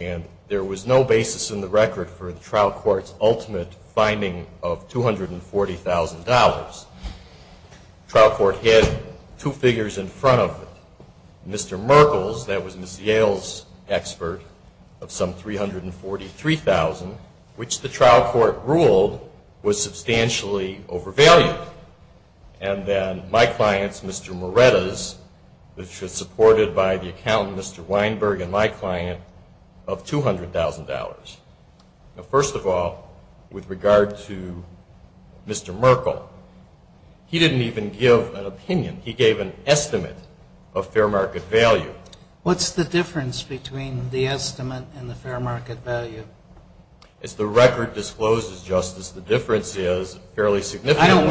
And there was no basis in the record for the trial court's ultimate finding of $240,000. The trial court had two figures in front of it. Mr. Merkles, that was Ms. Yale's expert, of some $343,000, which the trial court ruled was substantially overvalued. And then my client's, Mr. Moretta's, which was supported by the accountant, Mr. Weinberg, and my client, of $200,000. Now, first of all, with regard to Mr. Merkle, he didn't even give an opinion. He gave an estimate of fair market value. What's the difference between the estimate and the fair market value? As the record discloses, Justice, the difference is fairly significant. I don't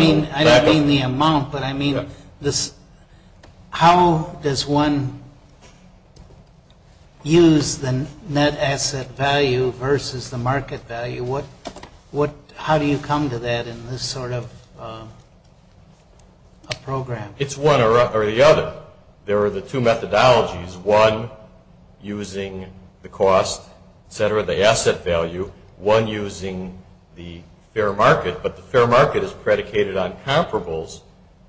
mean the amount, but I mean how does one use the net asset value versus the market value? How do you come to that in this sort of program? It's one or the other. There are the two methodologies, one using the cost, et cetera, the asset value, one using the fair market, but the fair market is predicated on comparables,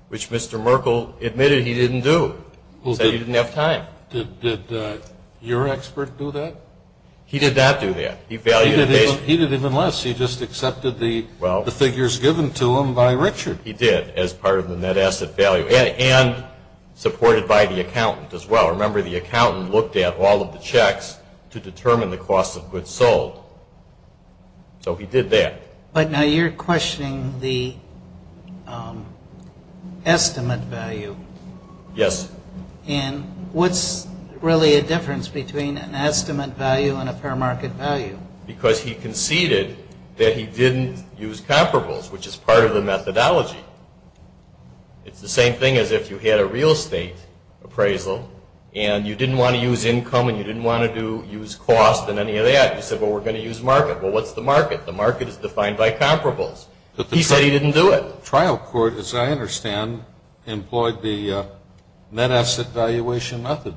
which Mr. Merkle admitted he didn't do because he didn't have time. Did your expert do that? He did not do that. He valued the case. He did even less. He just accepted the figures given to him by Richard. He did as part of the net asset value and supported by the accountant as well. Remember, the accountant looked at all of the checks to determine the cost of goods sold. So he did that. But now you're questioning the estimate value. Yes. And what's really a difference between an estimate value and a fair market value? Because he conceded that he didn't use comparables, which is part of the methodology. It's the same thing as if you had a real estate appraisal and you didn't want to use income and you didn't want to use cost and any of that. You said, well, we're going to use market. Well, what's the market? The market is defined by comparables. He said he didn't do it. The trial court, as I understand, employed the net asset valuation method.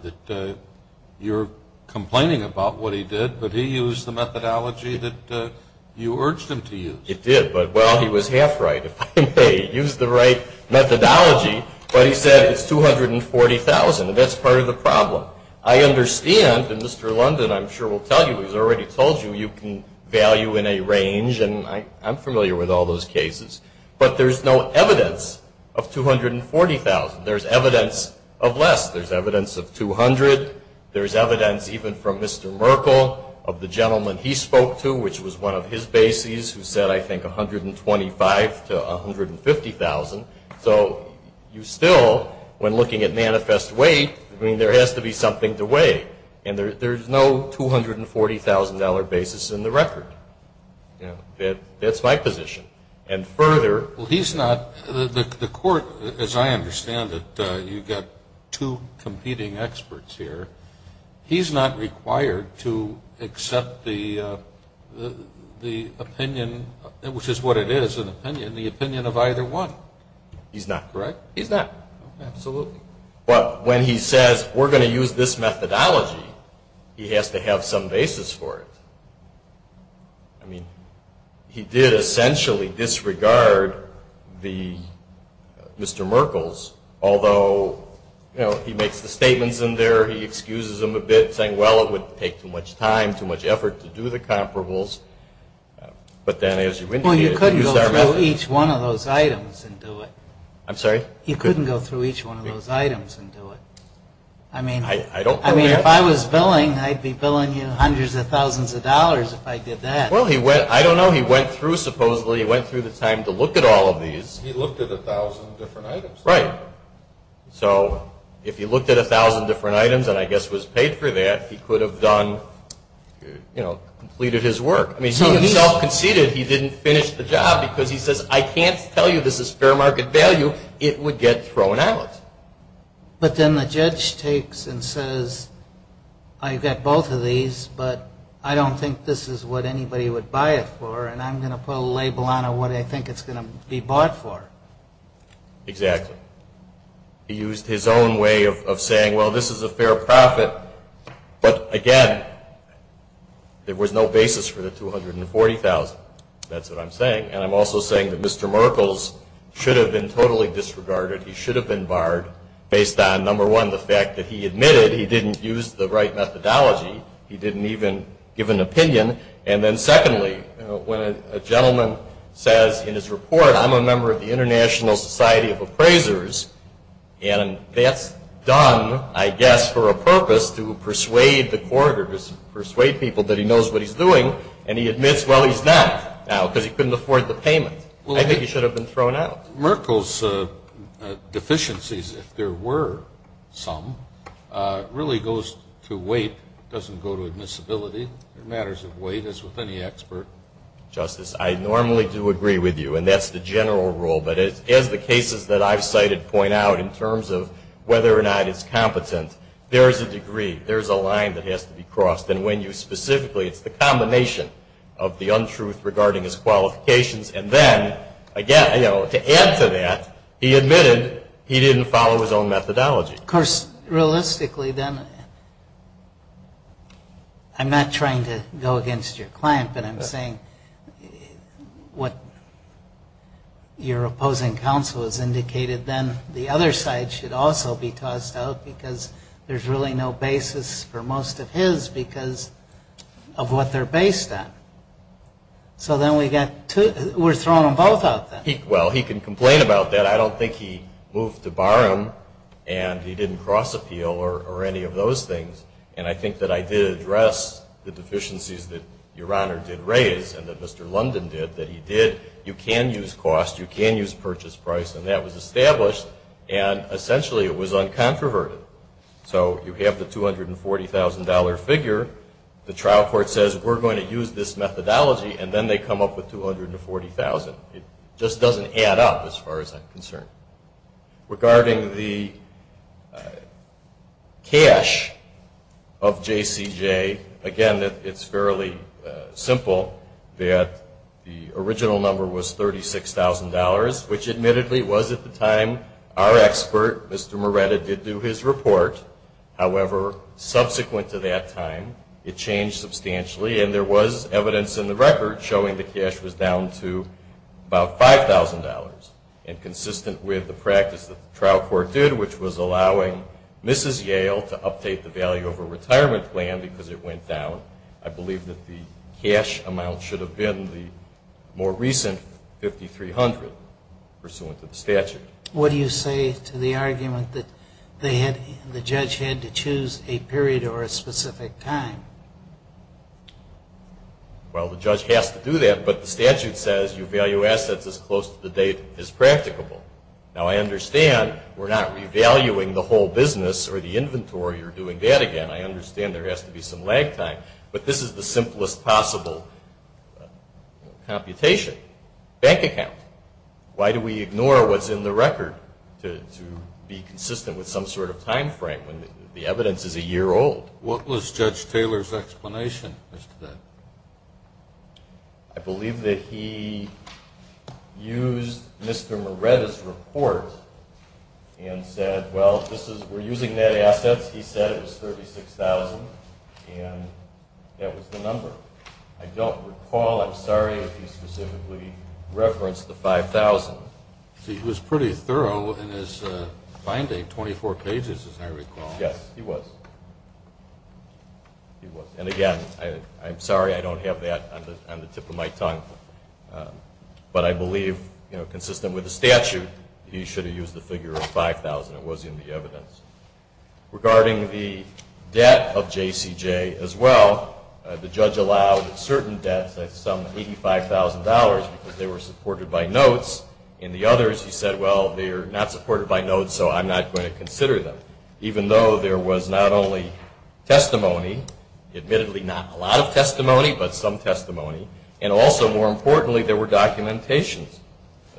You're complaining about what he did, but he used the methodology that you urged him to use. It did, but, well, he was half right. If I may use the right methodology. But he said it's $240,000, and that's part of the problem. I understand, and Mr. London, I'm sure, will tell you, he's already told you, you can value in a range, and I'm familiar with all those cases. But there's no evidence of $240,000. There's evidence of less. There's evidence of $200,000. There's evidence, even from Mr. Merkel, of the gentleman he spoke to, which was one of his bases, who said, I think, $125,000 to $150,000. So you still, when looking at manifest weight, I mean, there has to be something to weigh. And there's no $240,000 basis in the record. That's my position. And further. Well, he's not. The court, as I understand it, you've got two competing experts here. He's not required to accept the opinion, which is what it is, an opinion, the opinion of either one. He's not. Correct? He's not. Absolutely. But when he says, we're going to use this methodology, he has to have some basis for it. I mean, he did essentially disregard Mr. Merkel's, although he makes the statements in there, he excuses them a bit, saying, well, it would take too much time, too much effort to do the comparables. But then, as you indicated, we use our methods. Well, you couldn't go through each one of those items and do it. I'm sorry? You couldn't go through each one of those items and do it. I mean, if I was billing, I'd be billing you hundreds of thousands of dollars if I did that. Well, I don't know. He went through, supposedly, he went through the time to look at all of these. He looked at 1,000 different items. Right. So if he looked at 1,000 different items and, I guess, was paid for that, he could have completed his work. I mean, he himself conceded he didn't finish the job because he says, I can't tell you this is fair market value. It would get thrown out. But then the judge takes and says, I've got both of these, but I don't think this is what anybody would buy it for, and I'm going to put a label on it, what I think it's going to be bought for. Exactly. He used his own way of saying, well, this is a fair profit, but, again, there was no basis for the $240,000. That's what I'm saying. And I'm also saying that Mr. Merkles should have been totally disregarded. He should have been barred based on, number one, the fact that he admitted he didn't use the right methodology. He didn't even give an opinion. And then, secondly, when a gentleman says in his report, I'm a member of the International Society of Appraisers, and that's done, I guess, for a purpose to persuade the court or persuade people that he knows what he's doing, and he admits, well, he's not now because he couldn't afford the payment. I think he should have been thrown out. Merkles' deficiencies, if there were some, really goes to weight. It doesn't go to admissibility. It matters of weight, as with any expert. Justice, I normally do agree with you, and that's the general rule. But as the cases that I've cited point out in terms of whether or not it's competent, there is a degree. There is a line that has to be crossed. And when you specifically, it's the combination of the untruth regarding his qualifications. And then, again, you know, to add to that, he admitted he didn't follow his own methodology. Of course, realistically then, I'm not trying to go against your client, but I'm saying what your opposing counsel has indicated, then the other side should also be tossed out because there's really no basis for most of his because of what they're based on. So then we're throwing them both out then. Well, he can complain about that. I don't think he moved to Barham and he didn't cross appeal or any of those things. And I think that I did address the deficiencies that Your Honor did raise and that Mr. London did, that he did. You can use cost. You can use purchase price. And that was established, and essentially it was uncontroverted. So you have the $240,000 figure. The trial court says we're going to use this methodology, and then they come up with $240,000. It just doesn't add up as far as I'm concerned. Regarding the cash of JCJ, again, it's fairly simple that the original number was $36,000, which admittedly was at the time our expert, Mr. Moretta, did do his report. However, subsequent to that time, it changed substantially, and there was evidence in the record showing the cash was down to about $5,000, and consistent with the practice that the trial court did, which was allowing Mrs. Yale to update the value of her retirement plan because it went down. I believe that the cash amount should have been the more recent 5,300 pursuant to the statute. What do you say to the argument that the judge had to choose a period or a specific time? Well, the judge has to do that, but the statute says you value assets as close to the date as practicable. Now, I understand we're not revaluing the whole business or the inventory or doing that again. I understand there has to be some lag time, but this is the simplest possible computation. Bank account. Why do we ignore what's in the record to be consistent with some sort of time frame when the evidence is a year old? What was Judge Taylor's explanation as to that? I believe that he used Mr. Moretta's report and said, well, we're using net assets. He said it was $36,000, and that was the number. I don't recall. I'm sorry if he specifically referenced the 5,000. See, he was pretty thorough in his finding, 24 pages, as I recall. Yes, he was. He was. And, again, I'm sorry I don't have that on the tip of my tongue, but I believe, you know, consistent with the statute, he should have used the figure of 5,000. It was in the evidence. Regarding the debt of JCJ as well, the judge allowed certain debts at some $85,000 because they were supported by notes. In the others, he said, well, they're not supported by notes, so I'm not going to consider them. Even though there was not only testimony, admittedly not a lot of testimony, but some testimony, and also, more importantly, there were documentations.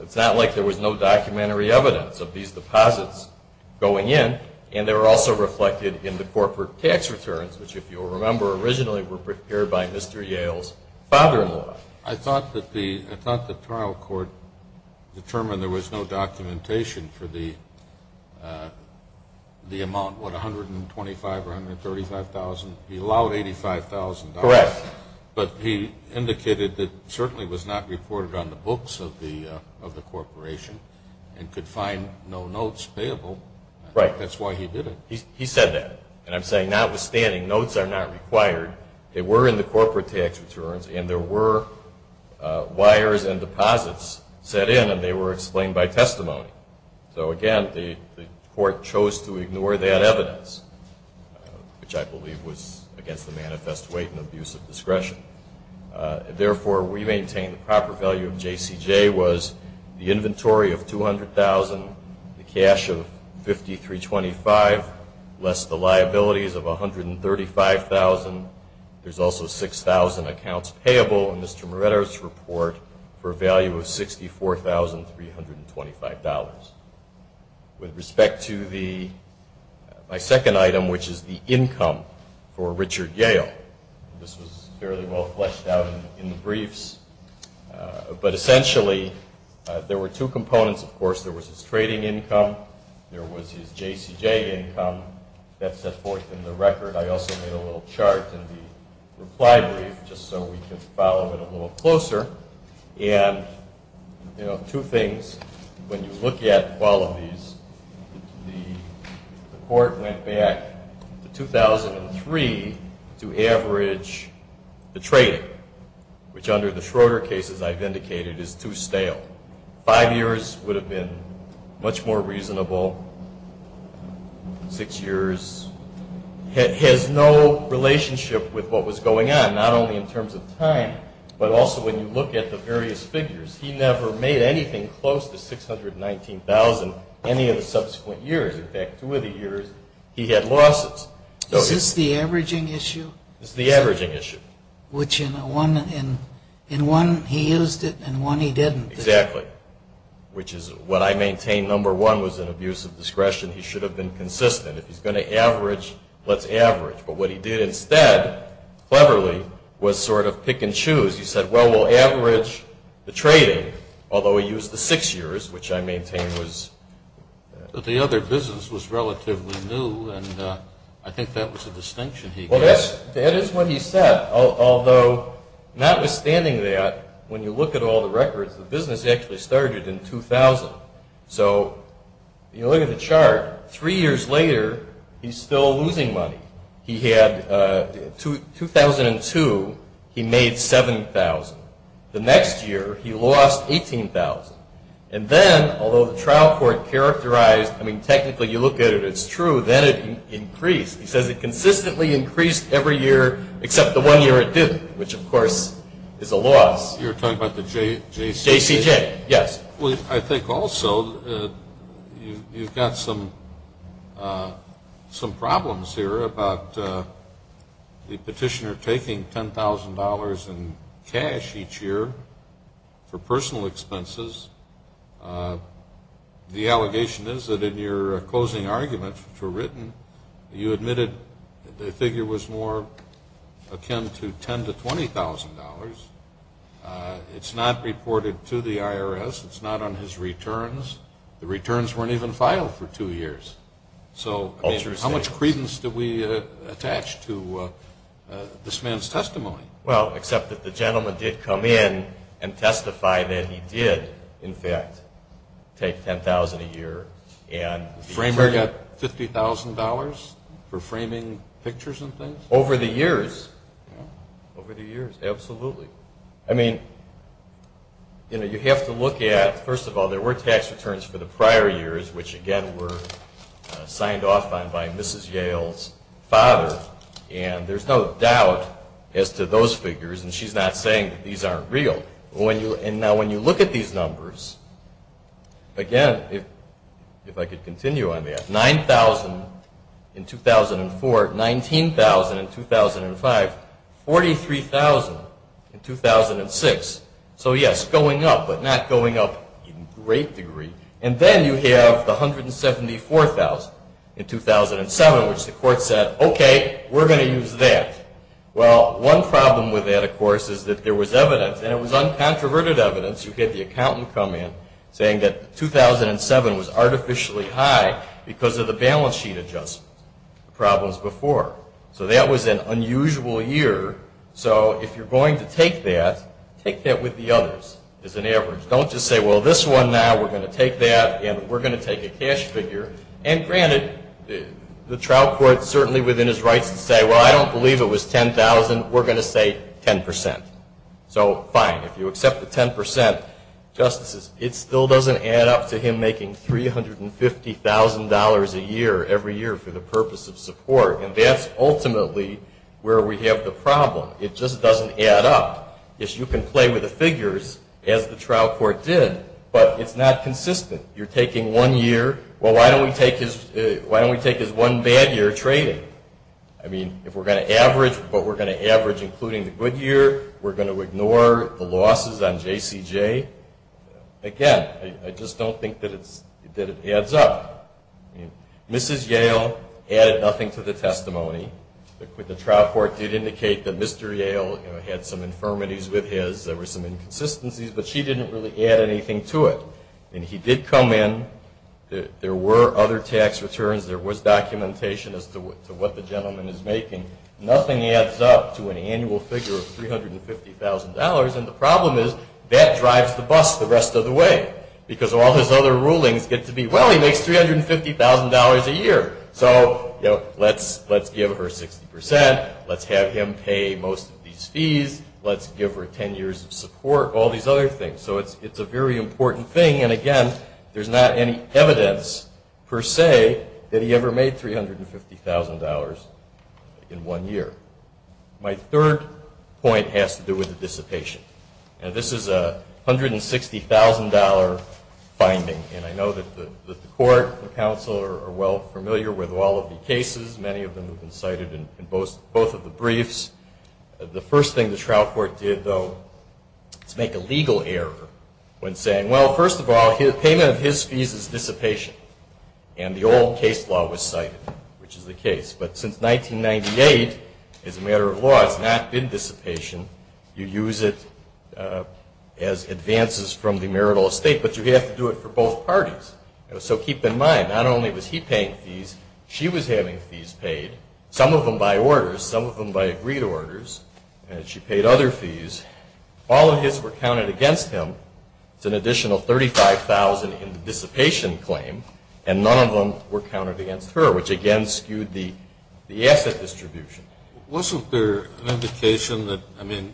It's not like there was no documentary evidence of these deposits going in, and they were also reflected in the corporate tax returns, which, if you'll remember, originally were prepared by Mr. Yale's father-in-law. I thought the trial court determined there was no documentation for the amount, what, $125,000 or $135,000? He allowed $85,000. Correct. But he indicated it certainly was not reported on the books of the corporation and could find no notes payable. Right. That's why he did it. He said that. And I'm saying, notwithstanding, notes are not required. They were in the corporate tax returns, and there were wires and deposits set in, and they were explained by testimony. So, again, the court chose to ignore that evidence, which I believe was against the manifest weight and abuse of discretion. Therefore, we maintain the proper value of JCJ was the inventory of $200,000, the cash of $53.25 less the liabilities of $135,000. There's also 6,000 accounts payable in Mr. Moretto's report for a value of $64,325. With respect to my second item, which is the income for Richard Yale. This was fairly well fleshed out in the briefs. But, essentially, there were two components. Of course, there was his trading income. There was his JCJ income. That's set forth in the record. I also made a little chart in the reply brief just so we can follow it a little closer. And, you know, two things. When you look at all of these, the court went back to 2003 to average the trading, which under the Schroeder cases I've indicated is too stale. Five years would have been much more reasonable. Six years has no relationship with what was going on, not only in terms of time, but also when you look at the various figures. He never made anything close to $619,000 any of the subsequent years. In fact, two of the years he had losses. Is this the averaging issue? It's the averaging issue. Which in one he used it and one he didn't. Exactly. Which is what I maintain number one was an abuse of discretion. He should have been consistent. If he's going to average, let's average. But what he did instead, cleverly, was sort of pick and choose. He said, well, we'll average the trading, although he used the six years, which I maintain was. The other business was relatively new, and I think that was a distinction he gave. Well, that is what he said, although notwithstanding that, when you look at all the records, the business actually started in 2000. So you look at the chart. Three years later, he's still losing money. In 2002, he made $7,000. The next year, he lost $18,000. And then, although the trial court characterized, I mean technically you look at it, it's true, then it increased. He says it consistently increased every year except the one year it didn't, which, of course, is a loss. You're talking about the JCJ? JCJ, yes. Well, I think also you've got some problems here about the petitioner taking $10,000 in cash each year for personal expenses. The allegation is that in your closing arguments, which were written, you admitted the figure was more akin to $10,000 to $20,000. It's not reported to the IRS. It's not on his returns. The returns weren't even filed for two years. So how much credence do we attach to this man's testimony? Well, except that the gentleman did come in and testify that he did, in fact, take $10,000 a year. The framer got $50,000 for framing pictures and things? Over the years. Over the years, absolutely. I mean, you know, you have to look at, first of all, there were tax returns for the prior years, which, again, were signed off on by Mrs. Yale's father, and there's no doubt as to those figures, and she's not saying that these aren't real. Now, when you look at these numbers, again, if I could continue on that, 9,000 in 2004, 19,000 in 2005, 43,000 in 2006. So, yes, going up, but not going up in great degree. And then you have the 174,000 in 2007, which the court said, okay, we're going to use that. Well, one problem with that, of course, is that there was evidence, and it was uncontroverted evidence. You had the accountant come in saying that 2007 was artificially high because of the balance sheet adjustments, the problems before. So that was an unusual year. So if you're going to take that, take that with the others as an average. Don't just say, well, this one now, we're going to take that, and we're going to take a cash figure. And, granted, the trial court certainly within his rights to say, well, I don't believe it was 10,000, we're going to say 10%. So, fine, if you accept the 10%, justices, it still doesn't add up to him making $350,000 a year every year for the purpose of support. And that's ultimately where we have the problem. It just doesn't add up. You can play with the figures, as the trial court did, but it's not consistent. You're taking one year, well, why don't we take his one bad year trading? We're going to ignore the losses on JCJ. Again, I just don't think that it adds up. Mrs. Yale added nothing to the testimony. The trial court did indicate that Mr. Yale had some infirmities with his. There were some inconsistencies, but she didn't really add anything to it. And he did come in. There were other tax returns. There was documentation as to what the gentleman is making. Nothing adds up to an annual figure of $350,000. And the problem is that drives the bus the rest of the way because all his other rulings get to be, well, he makes $350,000 a year, so let's give her 60%. Let's have him pay most of these fees. Let's give her 10 years of support, all these other things. So it's a very important thing. And, again, there's not any evidence per se that he ever made $350,000 in one year. My third point has to do with the dissipation. And this is a $160,000 finding, and I know that the court and the counsel are well familiar with all of the cases. Many of them have been cited in both of the briefs. The first thing the trial court did, though, is make a legal error when saying, well, first of all, the payment of his fees is dissipation, and the old case law was cited, which is the case. But since 1998, as a matter of law, it's not been dissipation. You use it as advances from the marital estate, but you have to do it for both parties. So keep in mind, not only was he paying fees, she was having fees paid, some of them by orders, some of them by agreed orders, and she paid other fees. All of his were counted against him. It's an additional $35,000 in the dissipation claim, and none of them were counted against her, which, again, skewed the asset distribution. Wasn't there an indication that, I mean,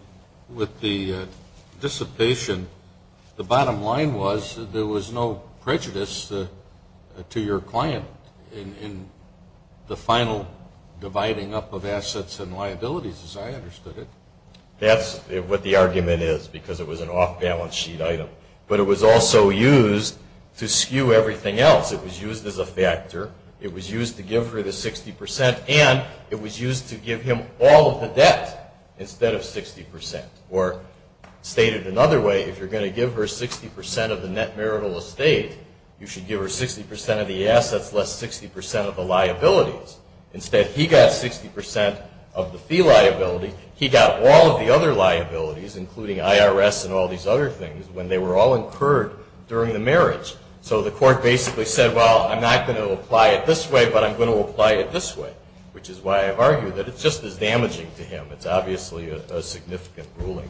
with the dissipation, the bottom line was that there was no prejudice to your client in the final dividing up of assets and liabilities, as I understood it? That's what the argument is, because it was an off-balance sheet item. But it was also used to skew everything else. It was used as a factor. It was used to give her the 60%, and it was used to give him all of the debt instead of 60%. Or stated another way, if you're going to give her 60% of the net marital estate, you should give her 60% of the assets, less 60% of the liabilities. Instead, he got 60% of the fee liability. He got all of the other liabilities, including IRS and all these other things, when they were all incurred during the marriage. So the court basically said, well, I'm not going to apply it this way, but I'm going to apply it this way, which is why I've argued that it's just as damaging to him. It's obviously a significant ruling.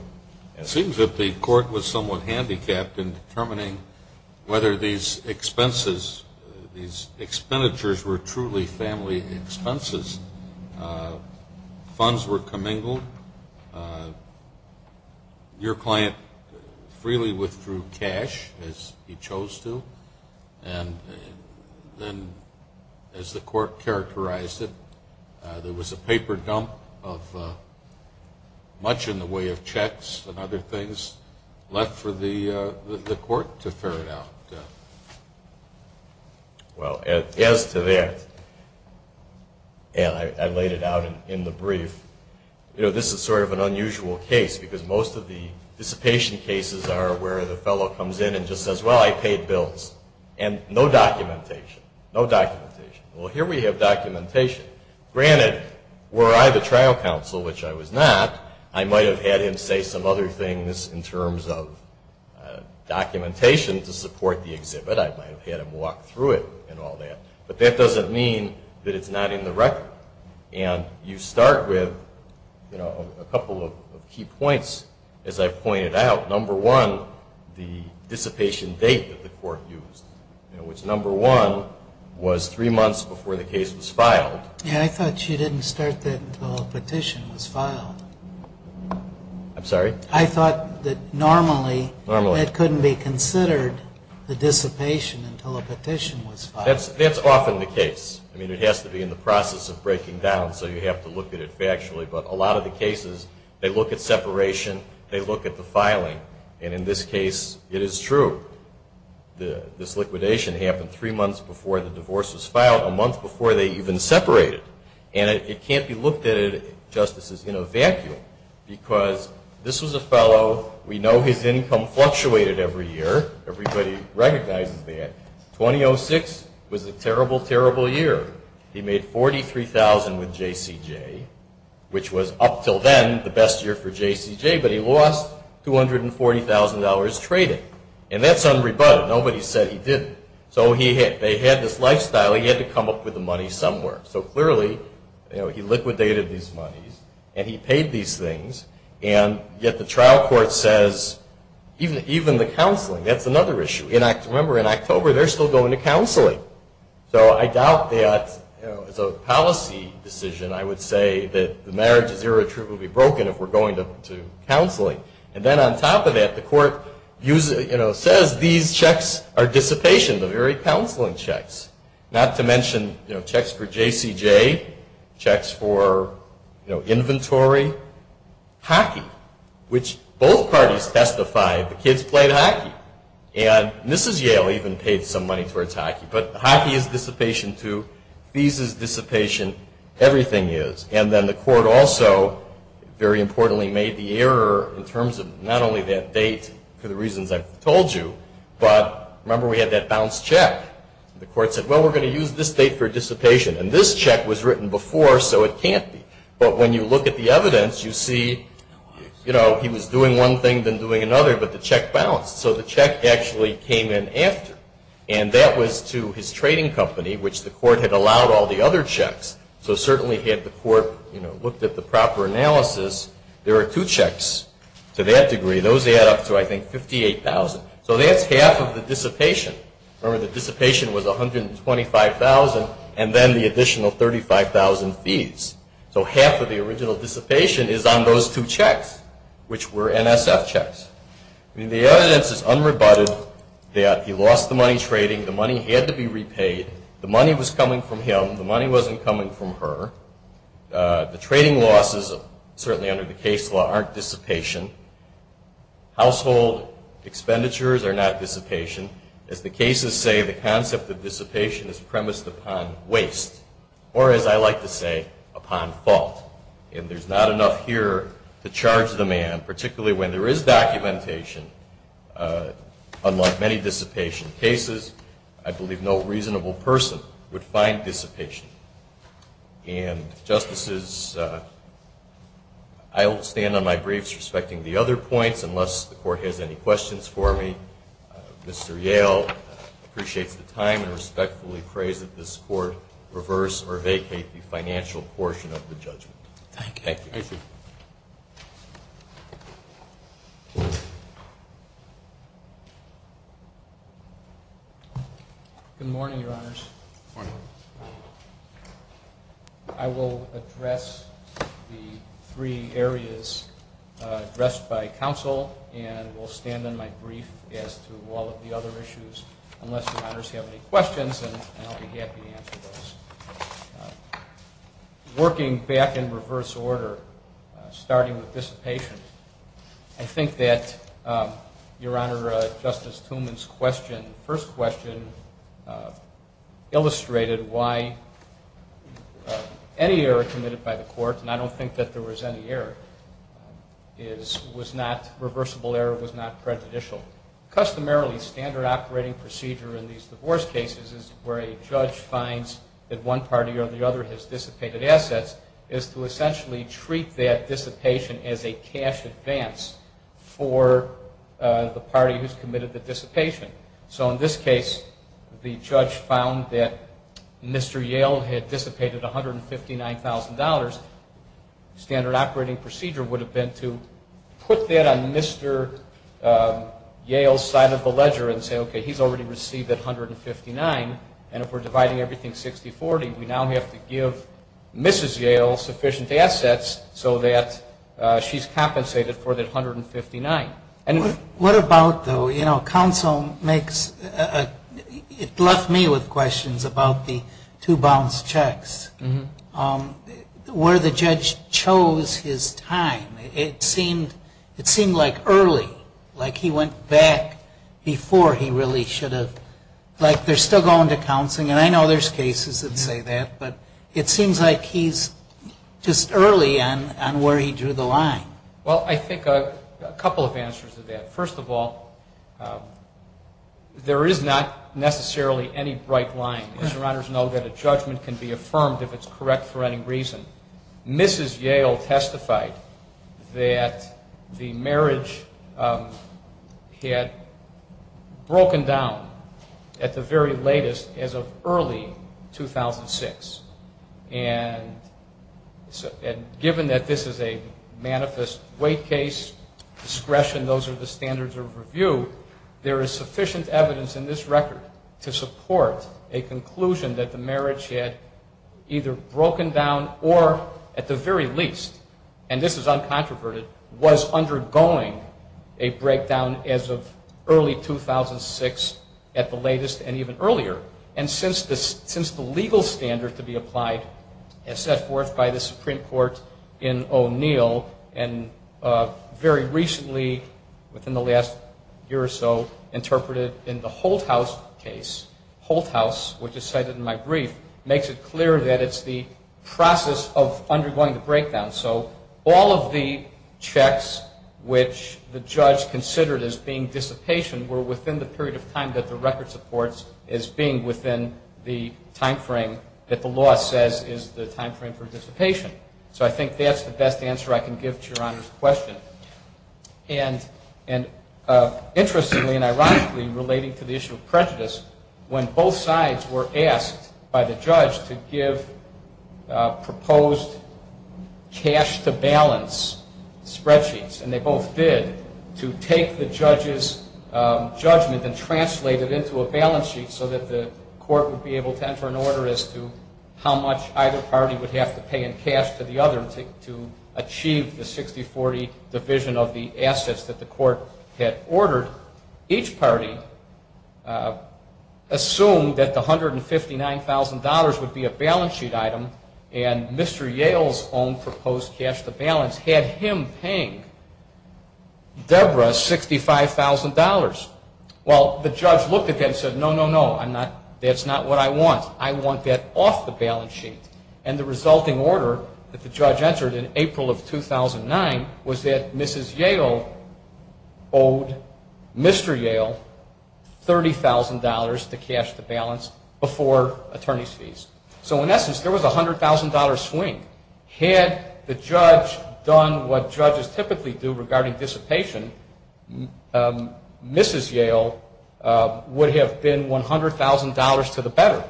It seems that the court was somewhat handicapped in determining whether these expenses, these expenditures were truly family expenses. Funds were commingled. Your client freely withdrew cash, as he chose to. And then, as the court characterized it, there was a paper dump of much in the way of checks and other things left for the court to ferret out. Well, as to that, and I laid it out in the brief, you know, this is sort of an unusual case, because most of the dissipation cases are where the fellow comes in and just says, well, I paid bills, and no documentation, no documentation. Well, here we have documentation. Granted, were I the trial counsel, which I was not, I might have had him say some other things in terms of documentation to support the exhibit. I might have had him walk through it and all that. But that doesn't mean that it's not in the record. And you start with a couple of key points, as I've pointed out. Number one, the dissipation date that the court used, Yeah, I thought you didn't start that until a petition was filed. I'm sorry? I thought that normally it couldn't be considered the dissipation until a petition was filed. That's often the case. I mean, it has to be in the process of breaking down, so you have to look at it factually. But a lot of the cases, they look at separation, they look at the filing. And in this case, it is true. This liquidation happened three months before the divorce was filed, a month before they even separated. And it can't be looked at, justices, in a vacuum. Because this was a fellow, we know his income fluctuated every year. Everybody recognizes that. 2006 was a terrible, terrible year. He made $43,000 with JCJ, which was up until then the best year for JCJ, but he lost $240,000 trading. And that's unrebutted. Nobody said he didn't. So they had this lifestyle, he had to come up with the money somewhere. So clearly, he liquidated these monies, and he paid these things, and yet the trial court says, even the counseling, that's another issue. Remember, in October, they're still going to counseling. So I doubt that as a policy decision I would say that the marriage is irretrievably broken if we're going to counseling. And then on top of that, the court says these checks are dissipation, the very counseling checks, not to mention checks for JCJ, checks for inventory, hockey, which both parties testified the kids played hockey. And Mrs. Yale even paid some money towards hockey. But hockey is dissipation too. These is dissipation. Everything is. And then the court also, very importantly, made the error in terms of not only that date, for the reasons I've told you, but remember we had that bounced check. The court said, well, we're going to use this date for dissipation. And this check was written before, so it can't be. But when you look at the evidence, you see he was doing one thing, then doing another, but the check bounced. So the check actually came in after. And that was to his trading company, which the court had allowed all the other checks. So certainly had the court looked at the proper analysis, there are two checks to that degree. Those add up to, I think, 58,000. So that's half of the dissipation. Remember, the dissipation was 125,000, and then the additional 35,000 fees. So half of the original dissipation is on those two checks, which were NSF checks. The evidence is unrebutted that he lost the money trading. The money had to be repaid. The money was coming from him. The money wasn't coming from her. The trading losses, certainly under the case law, aren't dissipation. Household expenditures are not dissipation. As the cases say, the concept of dissipation is premised upon waste, or as I like to say, upon fault. And there's not enough here to charge the man, particularly when there is documentation. Unlike many dissipation cases, I believe no reasonable person would find dissipation. And, Justices, I will stand on my briefs, respecting the other points, unless the court has any questions for me. Mr. Yale appreciates the time and respectfully prays that this court reverse or vacate the financial portion of the judgment. Thank you. Thank you. Good morning, Your Honors. Good morning. I will address the three areas addressed by counsel, and will stand on my brief as to all of the other issues, unless Your Honors have any questions, and I'll be happy to answer those. Working back in reverse order, starting with dissipation, I think that, Your Honor, Justice Tumen's first question illustrated why any error committed by the court, and I don't think that there was any error, was not reversible error, was not prejudicial. Customarily, standard operating procedure in these divorce cases is where a judge finds that one party or the other has dissipated assets, is to essentially treat that dissipation as a cash advance for the party who has committed the dissipation. So, in this case, the judge found that Mr. Yale had dissipated $159,000. Standard operating procedure would have been to put that on Mr. Yale's side of the ledger and say, okay, he's already received that $159,000, and if we're dividing everything 60-40, we now have to give Mrs. Yale sufficient assets so that she's compensated for that $159,000. What about, though, you know, counsel makes, it left me with questions about the two bounce checks. Where the judge chose his time, it seemed like early, like he went back before he really should have, like they're still going to counseling, and I know there's cases that say that, but it seems like he's just early on where he drew the line. Well, I think a couple of answers to that. First of all, there is not necessarily any bright line. Mr. Reynolds knows that a judgment can be affirmed if it's correct for any reason. Mrs. Yale testified that the marriage had broken down at the very latest as of early 2006, and given that this is a manifest weight case, discretion, those are the standards of review, there is sufficient evidence in this record to support a conclusion that the marriage had either broken down or at the very least, and this is uncontroverted, was undergoing a breakdown as of early 2006 at the latest and even earlier, and since the legal standard to be applied as set forth by the Supreme Court in O'Neill and very recently, within the last year or so, interpreted in the Holthaus case, Holthaus, which is cited in my brief, makes it clear that it's the process of undergoing the breakdown. So all of the checks which the judge considered as being dissipation were within the period of time that the record supports as being within the time frame that the law says is the time frame for dissipation. So I think that's the best answer I can give to Your Honor's question. And interestingly and ironically, relating to the issue of prejudice, when both sides were asked by the judge to give proposed cash-to-balance spreadsheets, and they both did, to take the judge's judgment and translate it into a balance sheet so that the court would be able to enter an order as to how much either party would have to pay in cash to the other to achieve the 60-40 division of the assets that the court had ordered, each party assumed that the $159,000 would be a balance sheet item and Mr. Yale's own proposed cash-to-balance had him paying Debra $65,000. Well, the judge looked at that and said, no, no, no, that's not what I want. I want that off the balance sheet. And the resulting order that the judge entered in April of 2009 was that Mrs. Yale owed Mr. Yale $30,000 to cash-to-balance before attorney's fees. So in essence, there was a $100,000 swing. Had the judge done what judges typically do regarding dissipation, Mrs. Yale would have been $100,000 to the better.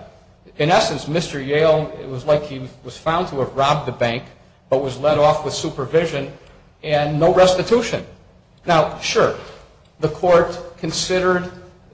In essence, Mr. Yale, it was like he was found to have robbed the bank but was let off with supervision and no restitution. Now, sure, the court considered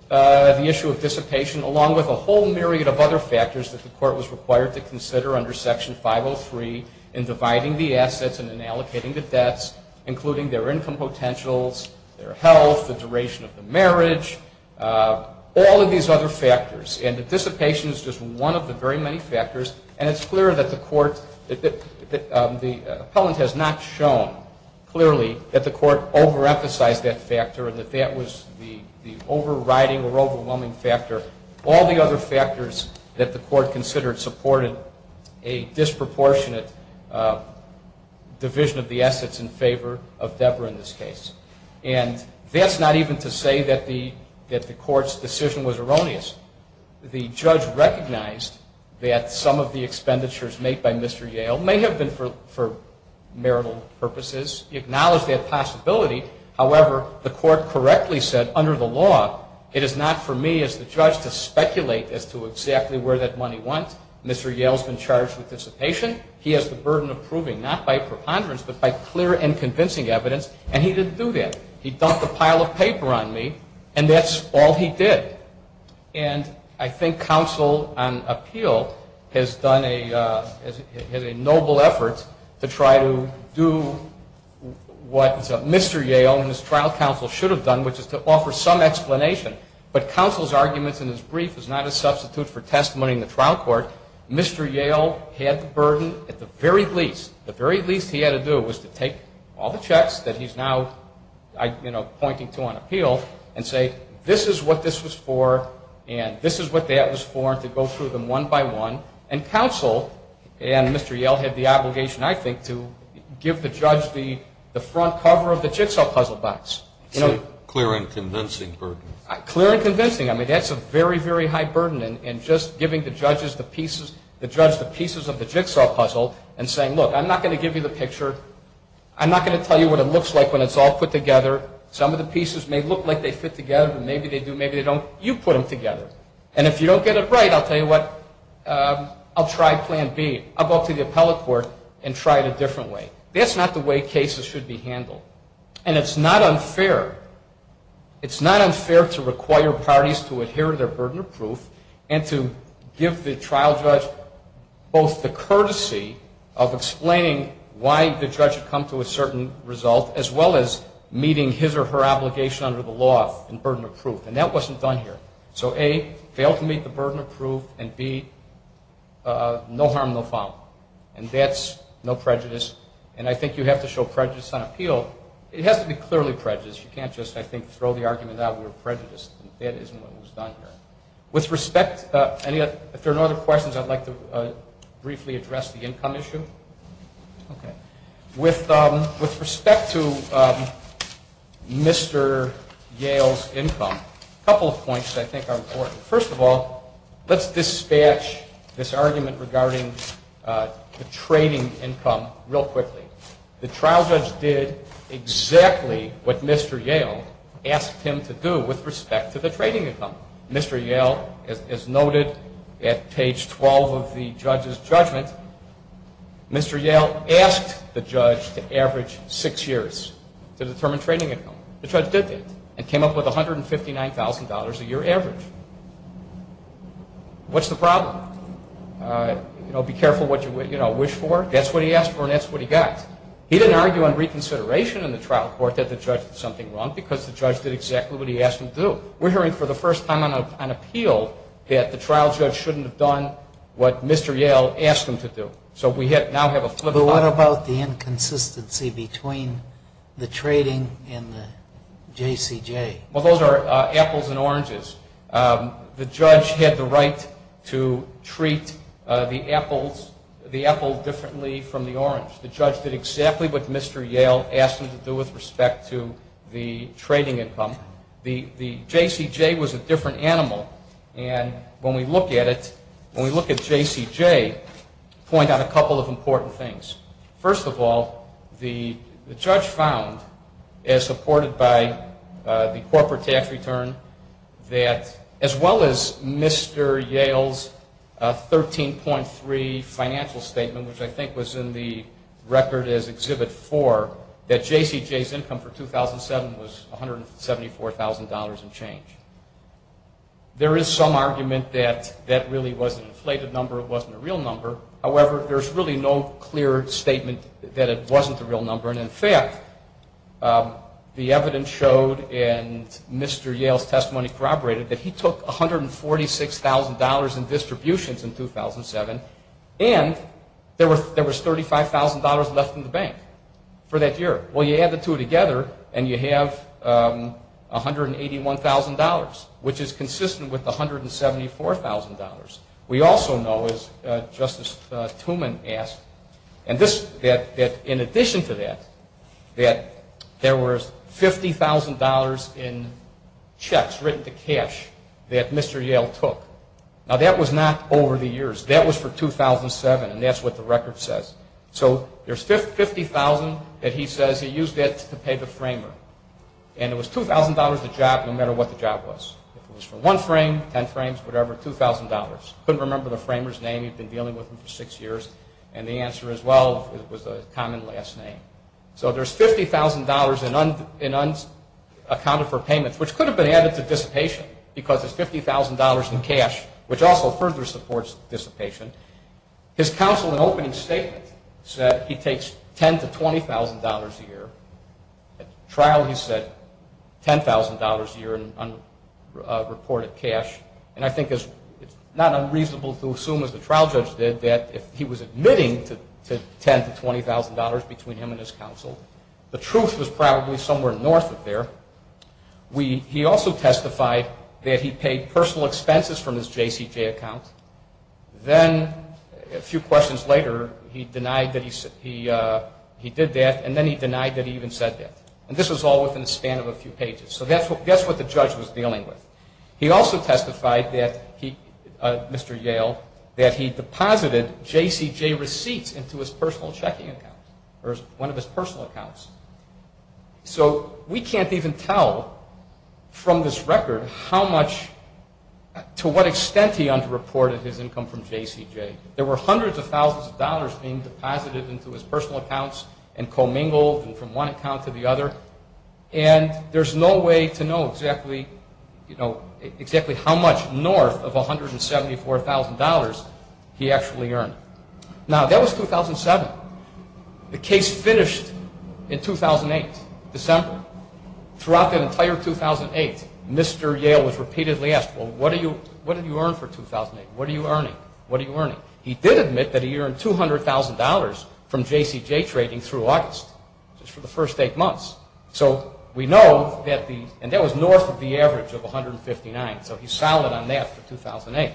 the issue of dissipation along with a whole myriad of other factors that the court was required to consider under Section 503 in dividing the assets and in allocating the debts, including their income potentials, their health, the duration of the marriage, all of these other factors. And dissipation is just one of the very many factors. And it's clear that the court, the appellant has not shown clearly that the court over-emphasized that factor and that that was the overriding or overwhelming factor. All the other factors that the court considered supported a disproportionate division of the assets in favor of Deborah in this case. And that's not even to say that the court's decision was erroneous. The judge recognized that some of the expenditures made by Mr. Yale may have been for marital purposes. He acknowledged that possibility. However, the court correctly said, under the law, it is not for me as the judge to speculate as to exactly where that money went. Mr. Yale's been charged with dissipation. He has the burden of proving, not by preponderance, but by clear and convincing evidence. And he didn't do that. He dumped a pile of paper on me, and that's all he did. And I think counsel on appeal has done a noble effort to try to do what Mr. Yale and his trial counsel should have done, which is to offer some explanation. But counsel's arguments in his brief is not a substitute for testimony in the trial court. Mr. Yale had the burden at the very least, the very least he had to do, was to take all the checks that he's now pointing to on appeal and say, this is what this was for, and this is what that was for, and to go through them one by one. And counsel and Mr. Yale had the obligation, I think, to give the judge the front cover of the jigsaw puzzle box. It's a clear and convincing burden. Clear and convincing. I mean, that's a very, very high burden, and just giving the judge the pieces of the jigsaw puzzle and saying, look, I'm not going to give you the picture. I'm not going to tell you what it looks like when it's all put together. Some of the pieces may look like they fit together, but maybe they do, maybe they don't. You put them together. And if you don't get it right, I'll tell you what, I'll try plan B. I'll go up to the appellate court and try it a different way. That's not the way cases should be handled. And it's not unfair. It's not unfair to require parties to adhere to their burden of proof and to give the trial judge both the courtesy of explaining why the judge had come to a certain result as well as meeting his or her obligation under the law and burden of proof. And that wasn't done here. So, A, fail to meet the burden of proof, and, B, no harm, no foul. And that's no prejudice. And I think you have to show prejudice on appeal. It has to be clearly prejudiced. You can't just, I think, throw the argument out we were prejudiced. That isn't what was done here. With respect, if there are no other questions, I'd like to briefly address the income issue. Okay. With respect to Mr. Yale's income, a couple of points I think are important. First of all, let's dispatch this argument regarding the trading income real quickly. The trial judge did exactly what Mr. Yale asked him to do with respect to the trading income. Mr. Yale, as noted at page 12 of the judge's judgment, Mr. Yale asked the judge to average six years to determine trading income. The judge did that and came up with $159,000 a year average. What's the problem? You know, be careful what you wish for. That's what he asked for and that's what he got. He didn't argue on reconsideration in the trial court that the judge did something wrong because the judge did exactly what he asked him to do. We're hearing for the first time on appeal that the trial judge shouldn't have done what Mr. Yale asked him to do. So we now have a flip-flop. But what about the inconsistency between the trading and the JCJ? Well, those are apples and oranges. The judge had the right to treat the apple differently from the orange. The judge did exactly what Mr. Yale asked him to do with respect to the trading income. The JCJ was a different animal. And when we look at it, when we look at JCJ, point out a couple of important things. First of all, the judge found, as supported by the corporate tax return, that as well as Mr. Yale's 13.3 financial statement, which I think was in the record as Exhibit 4, that JCJ's income for 2007 was $174,000 and change. There is some argument that that really was an inflated number, it wasn't a real number. However, there's really no clear statement that it wasn't a real number. And in fact, the evidence showed, and Mr. Yale's testimony corroborated, that he took $146,000 in distributions in 2007 and there was $35,000 left in the bank. For that year. Well, you add the two together and you have $181,000, which is consistent with $174,000. We also know, as Justice Tumen asked, that in addition to that, that there was $50,000 in checks written to cash that Mr. Yale took. Now, that was not over the years. That was for 2007, and that's what the record says. So there's $50,000 that he says he used it to pay the framer. And it was $2,000 a job no matter what the job was. If it was for one frame, ten frames, whatever, $2,000. Couldn't remember the framer's name, he'd been dealing with them for six years, and the answer as well was a common last name. So there's $50,000 in unaccounted for payments, which could have been added to dissipation because there's $50,000 in cash, which also further supports dissipation. His counsel in opening statement said he takes $10,000 to $20,000 a year. At trial he said $10,000 a year in unreported cash. And I think it's not unreasonable to assume, as the trial judge did, that if he was admitting to $10,000 to $20,000 between him and his counsel, the truth was probably somewhere north of there. He also testified that he paid personal expenses from his JCJ account. Then, a few questions later, he denied that he did that, and then he denied that he even said that. And this was all within the span of a few pages. So that's what the judge was dealing with. He also testified, Mr. Yale, that he deposited JCJ receipts into his personal checking account, or one of his personal accounts. So we can't even tell from this record how much, to what extent he underreported his income from JCJ. There were hundreds of thousands of dollars being deposited into his personal accounts and commingled from one account to the other, and there's no way to know exactly how much north of $174,000 he actually earned. Now, that was 2007. The case finished in 2008, December. Throughout that entire 2008, Mr. Yale was repeatedly asked, well, what did you earn for 2008? What are you earning? What are you earning? He did admit that he earned $200,000 from JCJ trading through August, just for the first eight months. So we know that the – and that was north of the average of $159,000, so he's solid on that for 2008.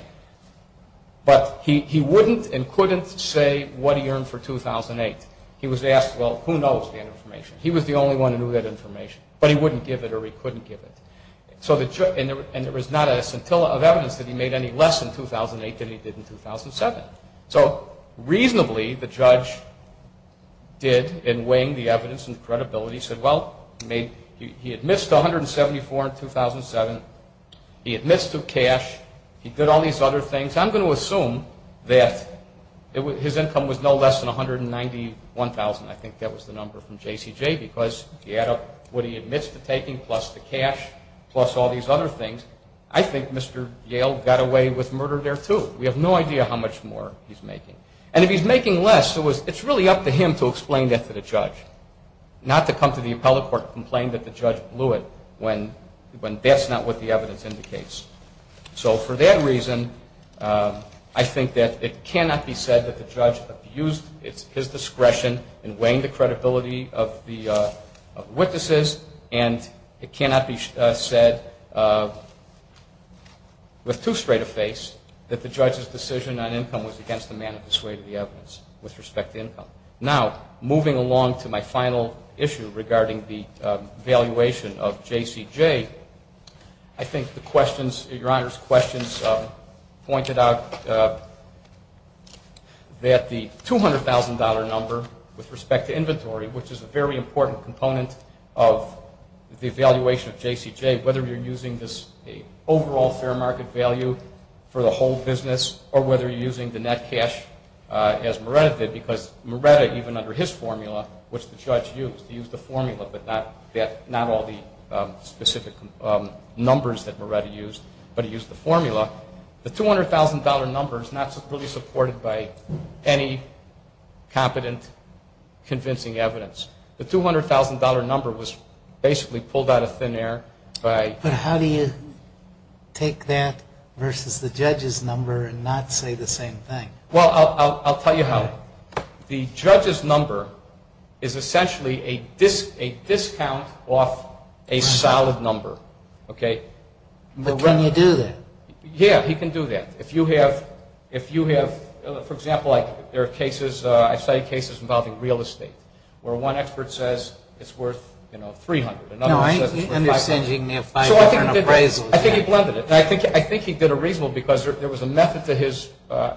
But he wouldn't and couldn't say what he earned for 2008. He was asked, well, who knows that information? He was the only one who knew that information, but he wouldn't give it or he couldn't give it. And there was not a scintilla of evidence that he made any less in 2008 than he did in 2007. So reasonably, the judge did, in weighing the evidence and credibility, said, well, he admits to $174,000 in 2007. He admits to cash. He did all these other things. I'm going to assume that his income was no less than $191,000. I think that was the number from JCJ because he had what he admits to taking plus the cash plus all these other things. I think Mr. Yale got away with murder there, too. We have no idea how much more he's making. And if he's making less, it's really up to him to explain that to the judge, not to come to the appellate court and complain that the judge blew it when that's not what the evidence indicates. So for that reason, I think that it cannot be said that the judge abused his discretion in weighing the credibility of the witnesses, and it cannot be said with too straight a face that the judge's decision on income was against the man who dissuaded the evidence with respect to income. Now, moving along to my final issue regarding the valuation of JCJ, I think the questions, Your Honor's questions pointed out that the $200,000 number with respect to inventory, which is a very important component of the evaluation of JCJ, whether you're using this overall fair market value for the whole business or whether you're using the net cash as Moretta did, because Moretta even under his formula, which the judge used, he used the formula but not all the specific numbers that Moretta used, but he used the formula. The $200,000 number is not really supported by any competent, convincing evidence. The $200,000 number was basically pulled out of thin air by... But how do you take that versus the judge's number and not say the same thing? Well, I'll tell you how. The judge's number is essentially a discount off a solid number, okay? But can you do that? Yeah, he can do that. If you have, for example, there are cases, I cite cases involving real estate where one expert says it's worth, you know, $300,000 and another says it's worth $500,000. So I think he blended it. I think he did a reasonable because there was a method to his, the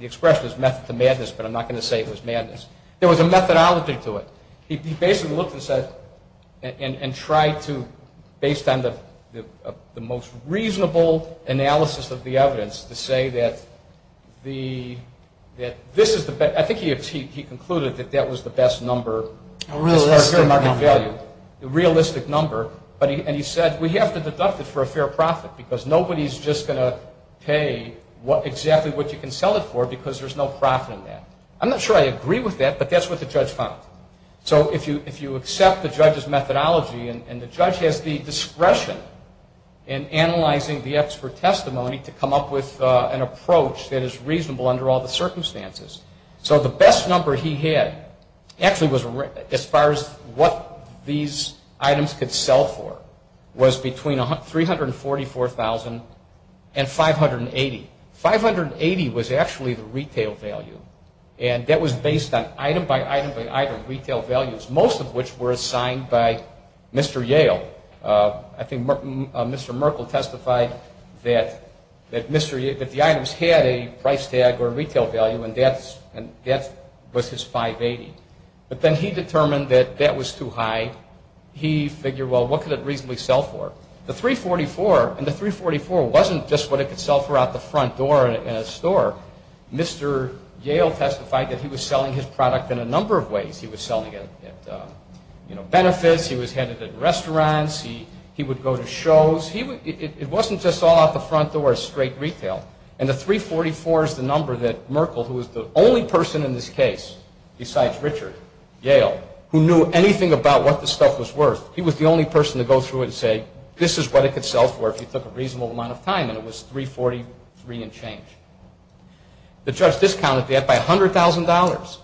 expression is method to madness, but I'm not going to say it was madness. There was a methodology to it. He basically looked and said and tried to, based on the most reasonable analysis of the evidence, to say that this is the best. I think he concluded that that was the best number. A realistic number. A realistic number. And he said, we have to deduct it for a fair profit because nobody's just going to pay exactly what you can sell it for because there's no profit in that. I'm not sure I agree with that, but that's what the judge found. So if you accept the judge's methodology and the judge has the discretion in analyzing the expert testimony to come up with an approach that is reasonable under all the circumstances. So the best number he had actually was as far as what these items could sell for was between $344,000 and $580,000. $580,000 was actually the retail value and that was based on item by item by item retail values, most of which were assigned by Mr. Yale. I think Mr. Merkel testified that the items had a price tag or retail value and that was his $580,000. But then he determined that that was too high. He figured, well, what could it reasonably sell for? The $344,000 wasn't just what it could sell for out the front door in a store. Mr. Yale testified that he was selling his product in a number of ways. He was selling it at benefits. He was headed at restaurants. He would go to shows. It wasn't just all out the front door at straight retail. And the $344,000 is the number that Merkel, who was the only person in this case, besides Richard, Yale, who knew anything about what the stuff was worth, he was the only person to go through it and say, this is what it could sell for if you took a reasonable amount of time, and it was $343,000 and change. The judge discounted that by $100,000.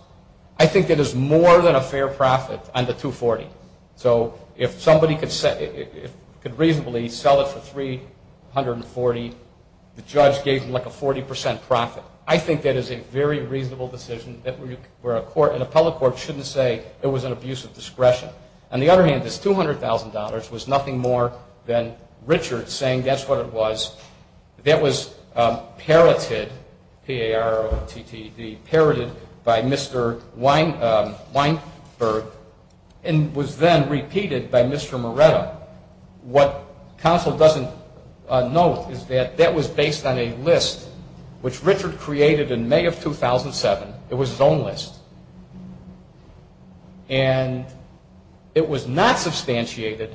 I think it is more than a fair profit on the $240,000. So if somebody could reasonably sell it for $340,000, the judge gave them like a 40% profit. I think that is a very reasonable decision where a court, an appellate court shouldn't say it was an abuse of discretion. On the other hand, this $200,000 was nothing more than Richard saying that's what it was. That was parroted, P-A-R-O-T-T-E-D, parroted by Mr. Weinberg and was then repeated by Mr. Moretta. What counsel doesn't note is that that was based on a list, which Richard created in May of 2007. It was his own list. And it was not substantiated.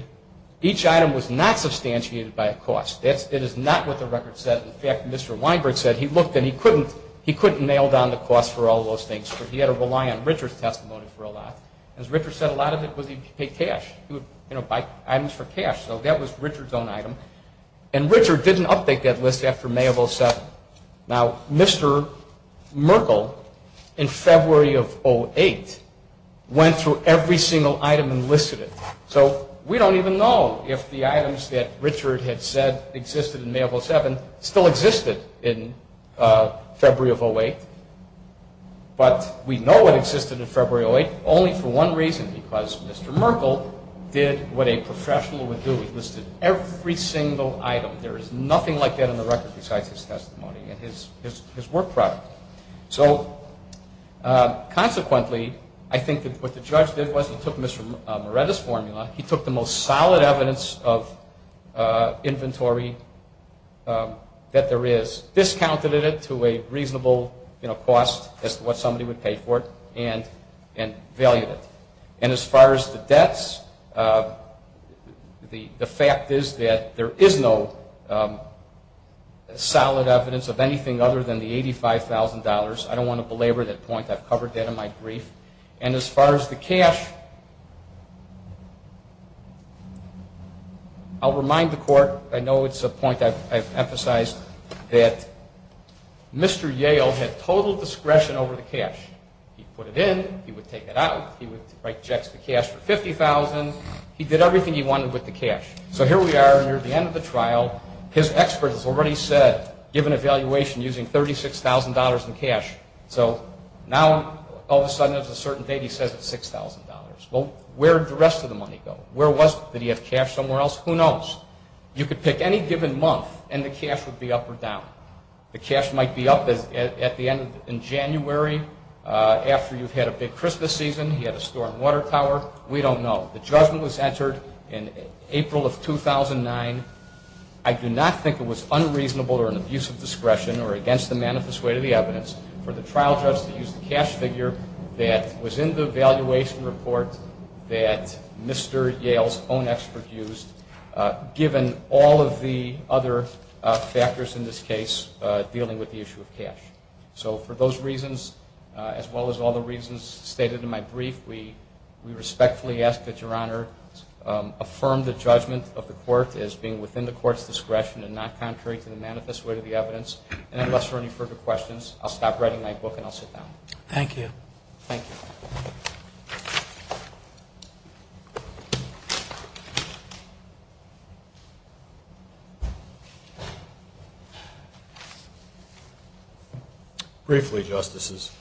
Each item was not substantiated by a cost. It is not what the record said. In fact, Mr. Weinberg said he looked and he couldn't nail down the cost for all those things because he had to rely on Richard's testimony for a lot. As Richard said, a lot of it was he paid cash. He would buy items for cash. So that was Richard's own item. And Richard didn't update that list after May of 2007. Now, Mr. Merkel, in February of 2008, went through every single item and listed it. So we don't even know if the items that Richard had said existed in May of 2007 still existed in February of 2008. But we know it existed in February of 2008 only for one reason, because Mr. Merkel did what a professional would do. He listed every single item. There is nothing like that in the record besides his testimony and his work product. So, consequently, I think that what the judge did was he took Mr. Moretta's formula, he took the most solid evidence of inventory that there is, discounted it to a reasonable cost as to what somebody would pay for it, and valued it. And as far as the debts, the fact is that there is no solid evidence of anything other than the $85,000. I don't want to belabor that point. I've covered that in my brief. And as far as the cash, I'll remind the Court. I know it's a point I've emphasized that Mr. Yale had total discretion over the cash. He put it in. He would take it out. He would write checks to cash for $50,000. He did everything he wanted with the cash. So here we are near the end of the trial. His expert has already said, given evaluation, using $36,000 in cash. So now, all of a sudden, there's a certain date he says it's $6,000. Well, where did the rest of the money go? Where was it? Did he have cash somewhere else? Who knows? You could pick any given month, and the cash would be up or down. The cash might be up at the end in January after you've had a big Christmas season. He had a store in Watertower. We don't know. The judgment was entered in April of 2009. I do not think it was unreasonable or an abuse of discretion or against the manifest way to the evidence for the trial judge to use the cash figure that was in the evaluation report that Mr. Yale's own expert used, given all of the other factors in this case dealing with the issue of cash. So for those reasons, as well as all the reasons stated in my brief, we respectfully ask that Your Honor affirm the judgment of the court as being within the court's discretion and not contrary to the manifest way to the evidence. And unless there are any further questions, I'll stop writing my book and I'll sit down. Thank you. Thank you. Briefly, Justices,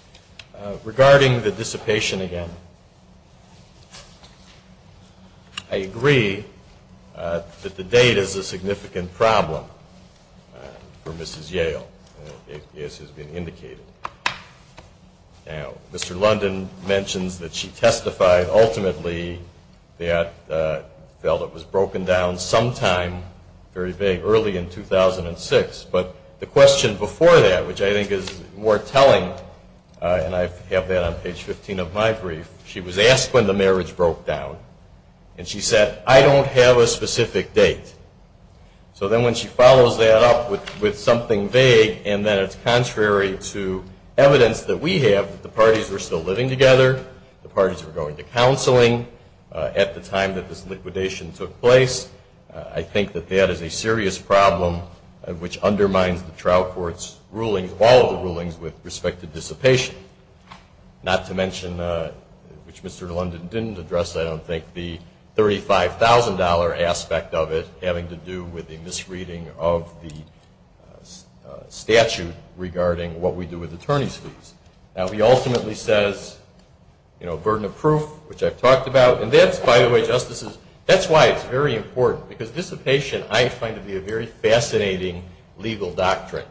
regarding the dissipation again, I agree that the date is a significant problem for Mrs. Yale, as has been indicated. Now, Mr. London mentions that she testified ultimately that it was broken down sometime very early in 2006. But the question before that, which I think is more telling, and I have that on page 15 of my brief, she was asked when the marriage broke down. And she said, I don't have a specific date. So then when she follows that up with something vague and then it's contrary to evidence that we have, that the parties were still living together, the parties were going to counseling at the time that this liquidation took place, I think that that is a serious problem which undermines the trial court's rulings, all of the rulings with respect to dissipation. Not to mention, which Mr. London didn't address, I don't think, the $35,000 aspect of it having to do with the misreading of the statute regarding what we do with attorney's fees. Now, he ultimately says, you know, burden of proof, which I've talked about. And that's, by the way, Justices, that's why it's very important. Because dissipation, I find to be a very fascinating legal doctrine.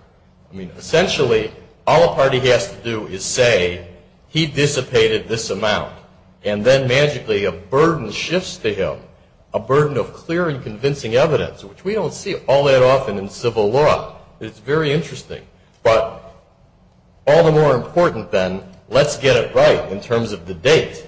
I mean, essentially, all a party has to do is say, he dissipated this amount, and then magically a burden shifts to him, a burden of clear and convincing evidence, which we don't see all that often in civil law. It's very interesting. But all the more important, then, let's get it right in terms of the date.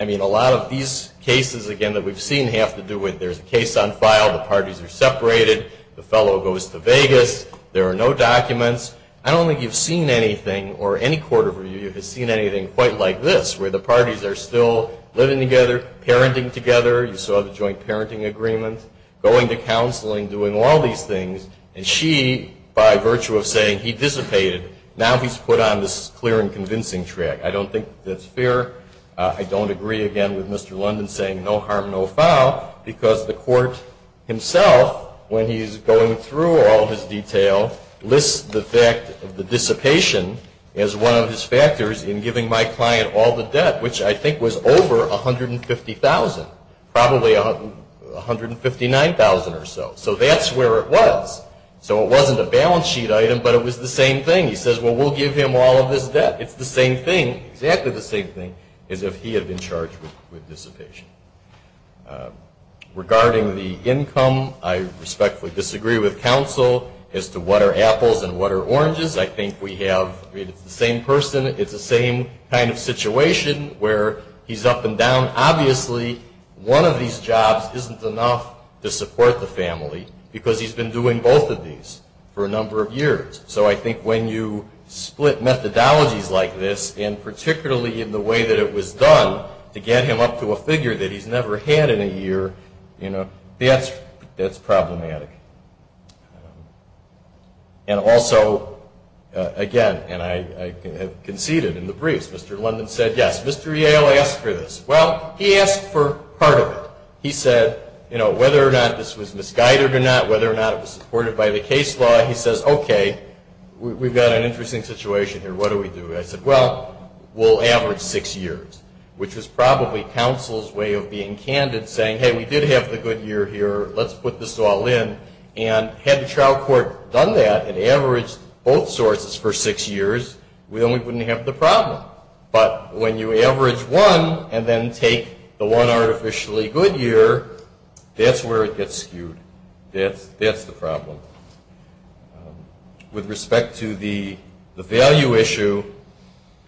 I mean, a lot of these cases, again, that we've seen have to do with there's a case on file, the parties are separated, the fellow goes to Vegas, there are no documents. I don't think you've seen anything, or any court of review has seen anything quite like this, where the parties are still living together, parenting together. You saw the joint parenting agreement, going to counseling, doing all these things. And she, by virtue of saying, he dissipated, now he's put on this clear and convincing track. I don't think that's fair. I don't agree, again, with Mr. London saying no harm, no foul, because the court himself, when he's going through all his detail, lists the fact of the dissipation as one of his factors in giving my client all the debt, which I think was over $150,000, probably $159,000 or so. So that's where it was. So it wasn't a balance sheet item, but it was the same thing. He says, well, we'll give him all of his debt. It's the same thing, exactly the same thing, as if he had been charged with dissipation. Regarding the income, I respectfully disagree with counsel as to what are apples and what are oranges. I think we have the same person. It's the same kind of situation where he's up and down. Obviously, one of these jobs isn't enough to support the family, because he's been doing both of these for a number of years. So I think when you split methodologies like this, and particularly in the way that it was done, to get him up to a figure that he's never had in a year, that's problematic. And also, again, and I conceded in the briefs, Mr. London said yes. Mr. Yale asked for this. Well, he asked for part of it. He said whether or not this was misguided or not, whether or not it was supported by the case law, he says, okay, we've got an interesting situation here. What do we do? I said, well, we'll average six years, which was probably counsel's way of being candid, saying, hey, we did have the good year here. Let's put this all in. And had the trial court done that and averaged both sources for six years, we only wouldn't have the problem. But when you average one and then take the one artificially good year, that's where it gets skewed. That's the problem. With respect to the value issue,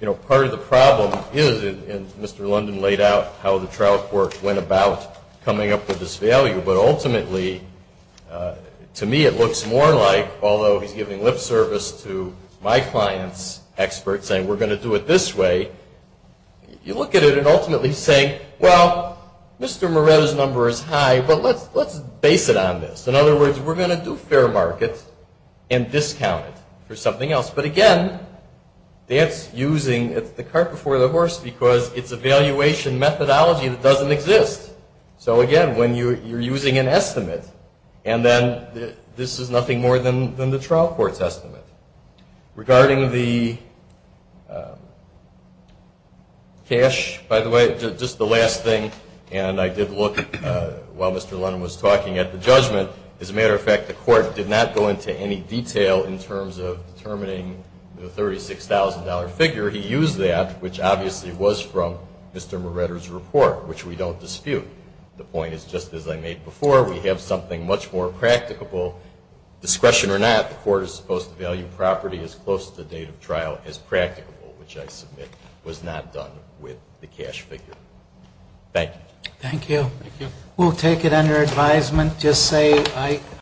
you know, part of the problem is, and Mr. London laid out how the trial court went about coming up with this value, but ultimately, to me it looks more like, although he's giving lip service to my client's experts saying we're going to do it this way, you look at it and ultimately say, well, Mr. Moret's number is high, but let's base it on this. In other words, we're going to do fair markets and discount it for something else. But, again, that's using the cart before the horse because it's a valuation methodology that doesn't exist. So, again, when you're using an estimate, and then this is nothing more than the trial court's estimate. Regarding the cash, by the way, just the last thing, and I did look while Mr. London was talking at the judgment. As a matter of fact, the court did not go into any detail in terms of determining the $36,000 figure. He used that, which obviously was from Mr. Moretter's report, which we don't dispute. The point is, just as I made before, we have something much more practicable. Discretion or not, the court is supposed to value property as close to the date of trial as practicable, which I submit was not done with the cash figure. Thank you. Thank you. We'll take it under advisement.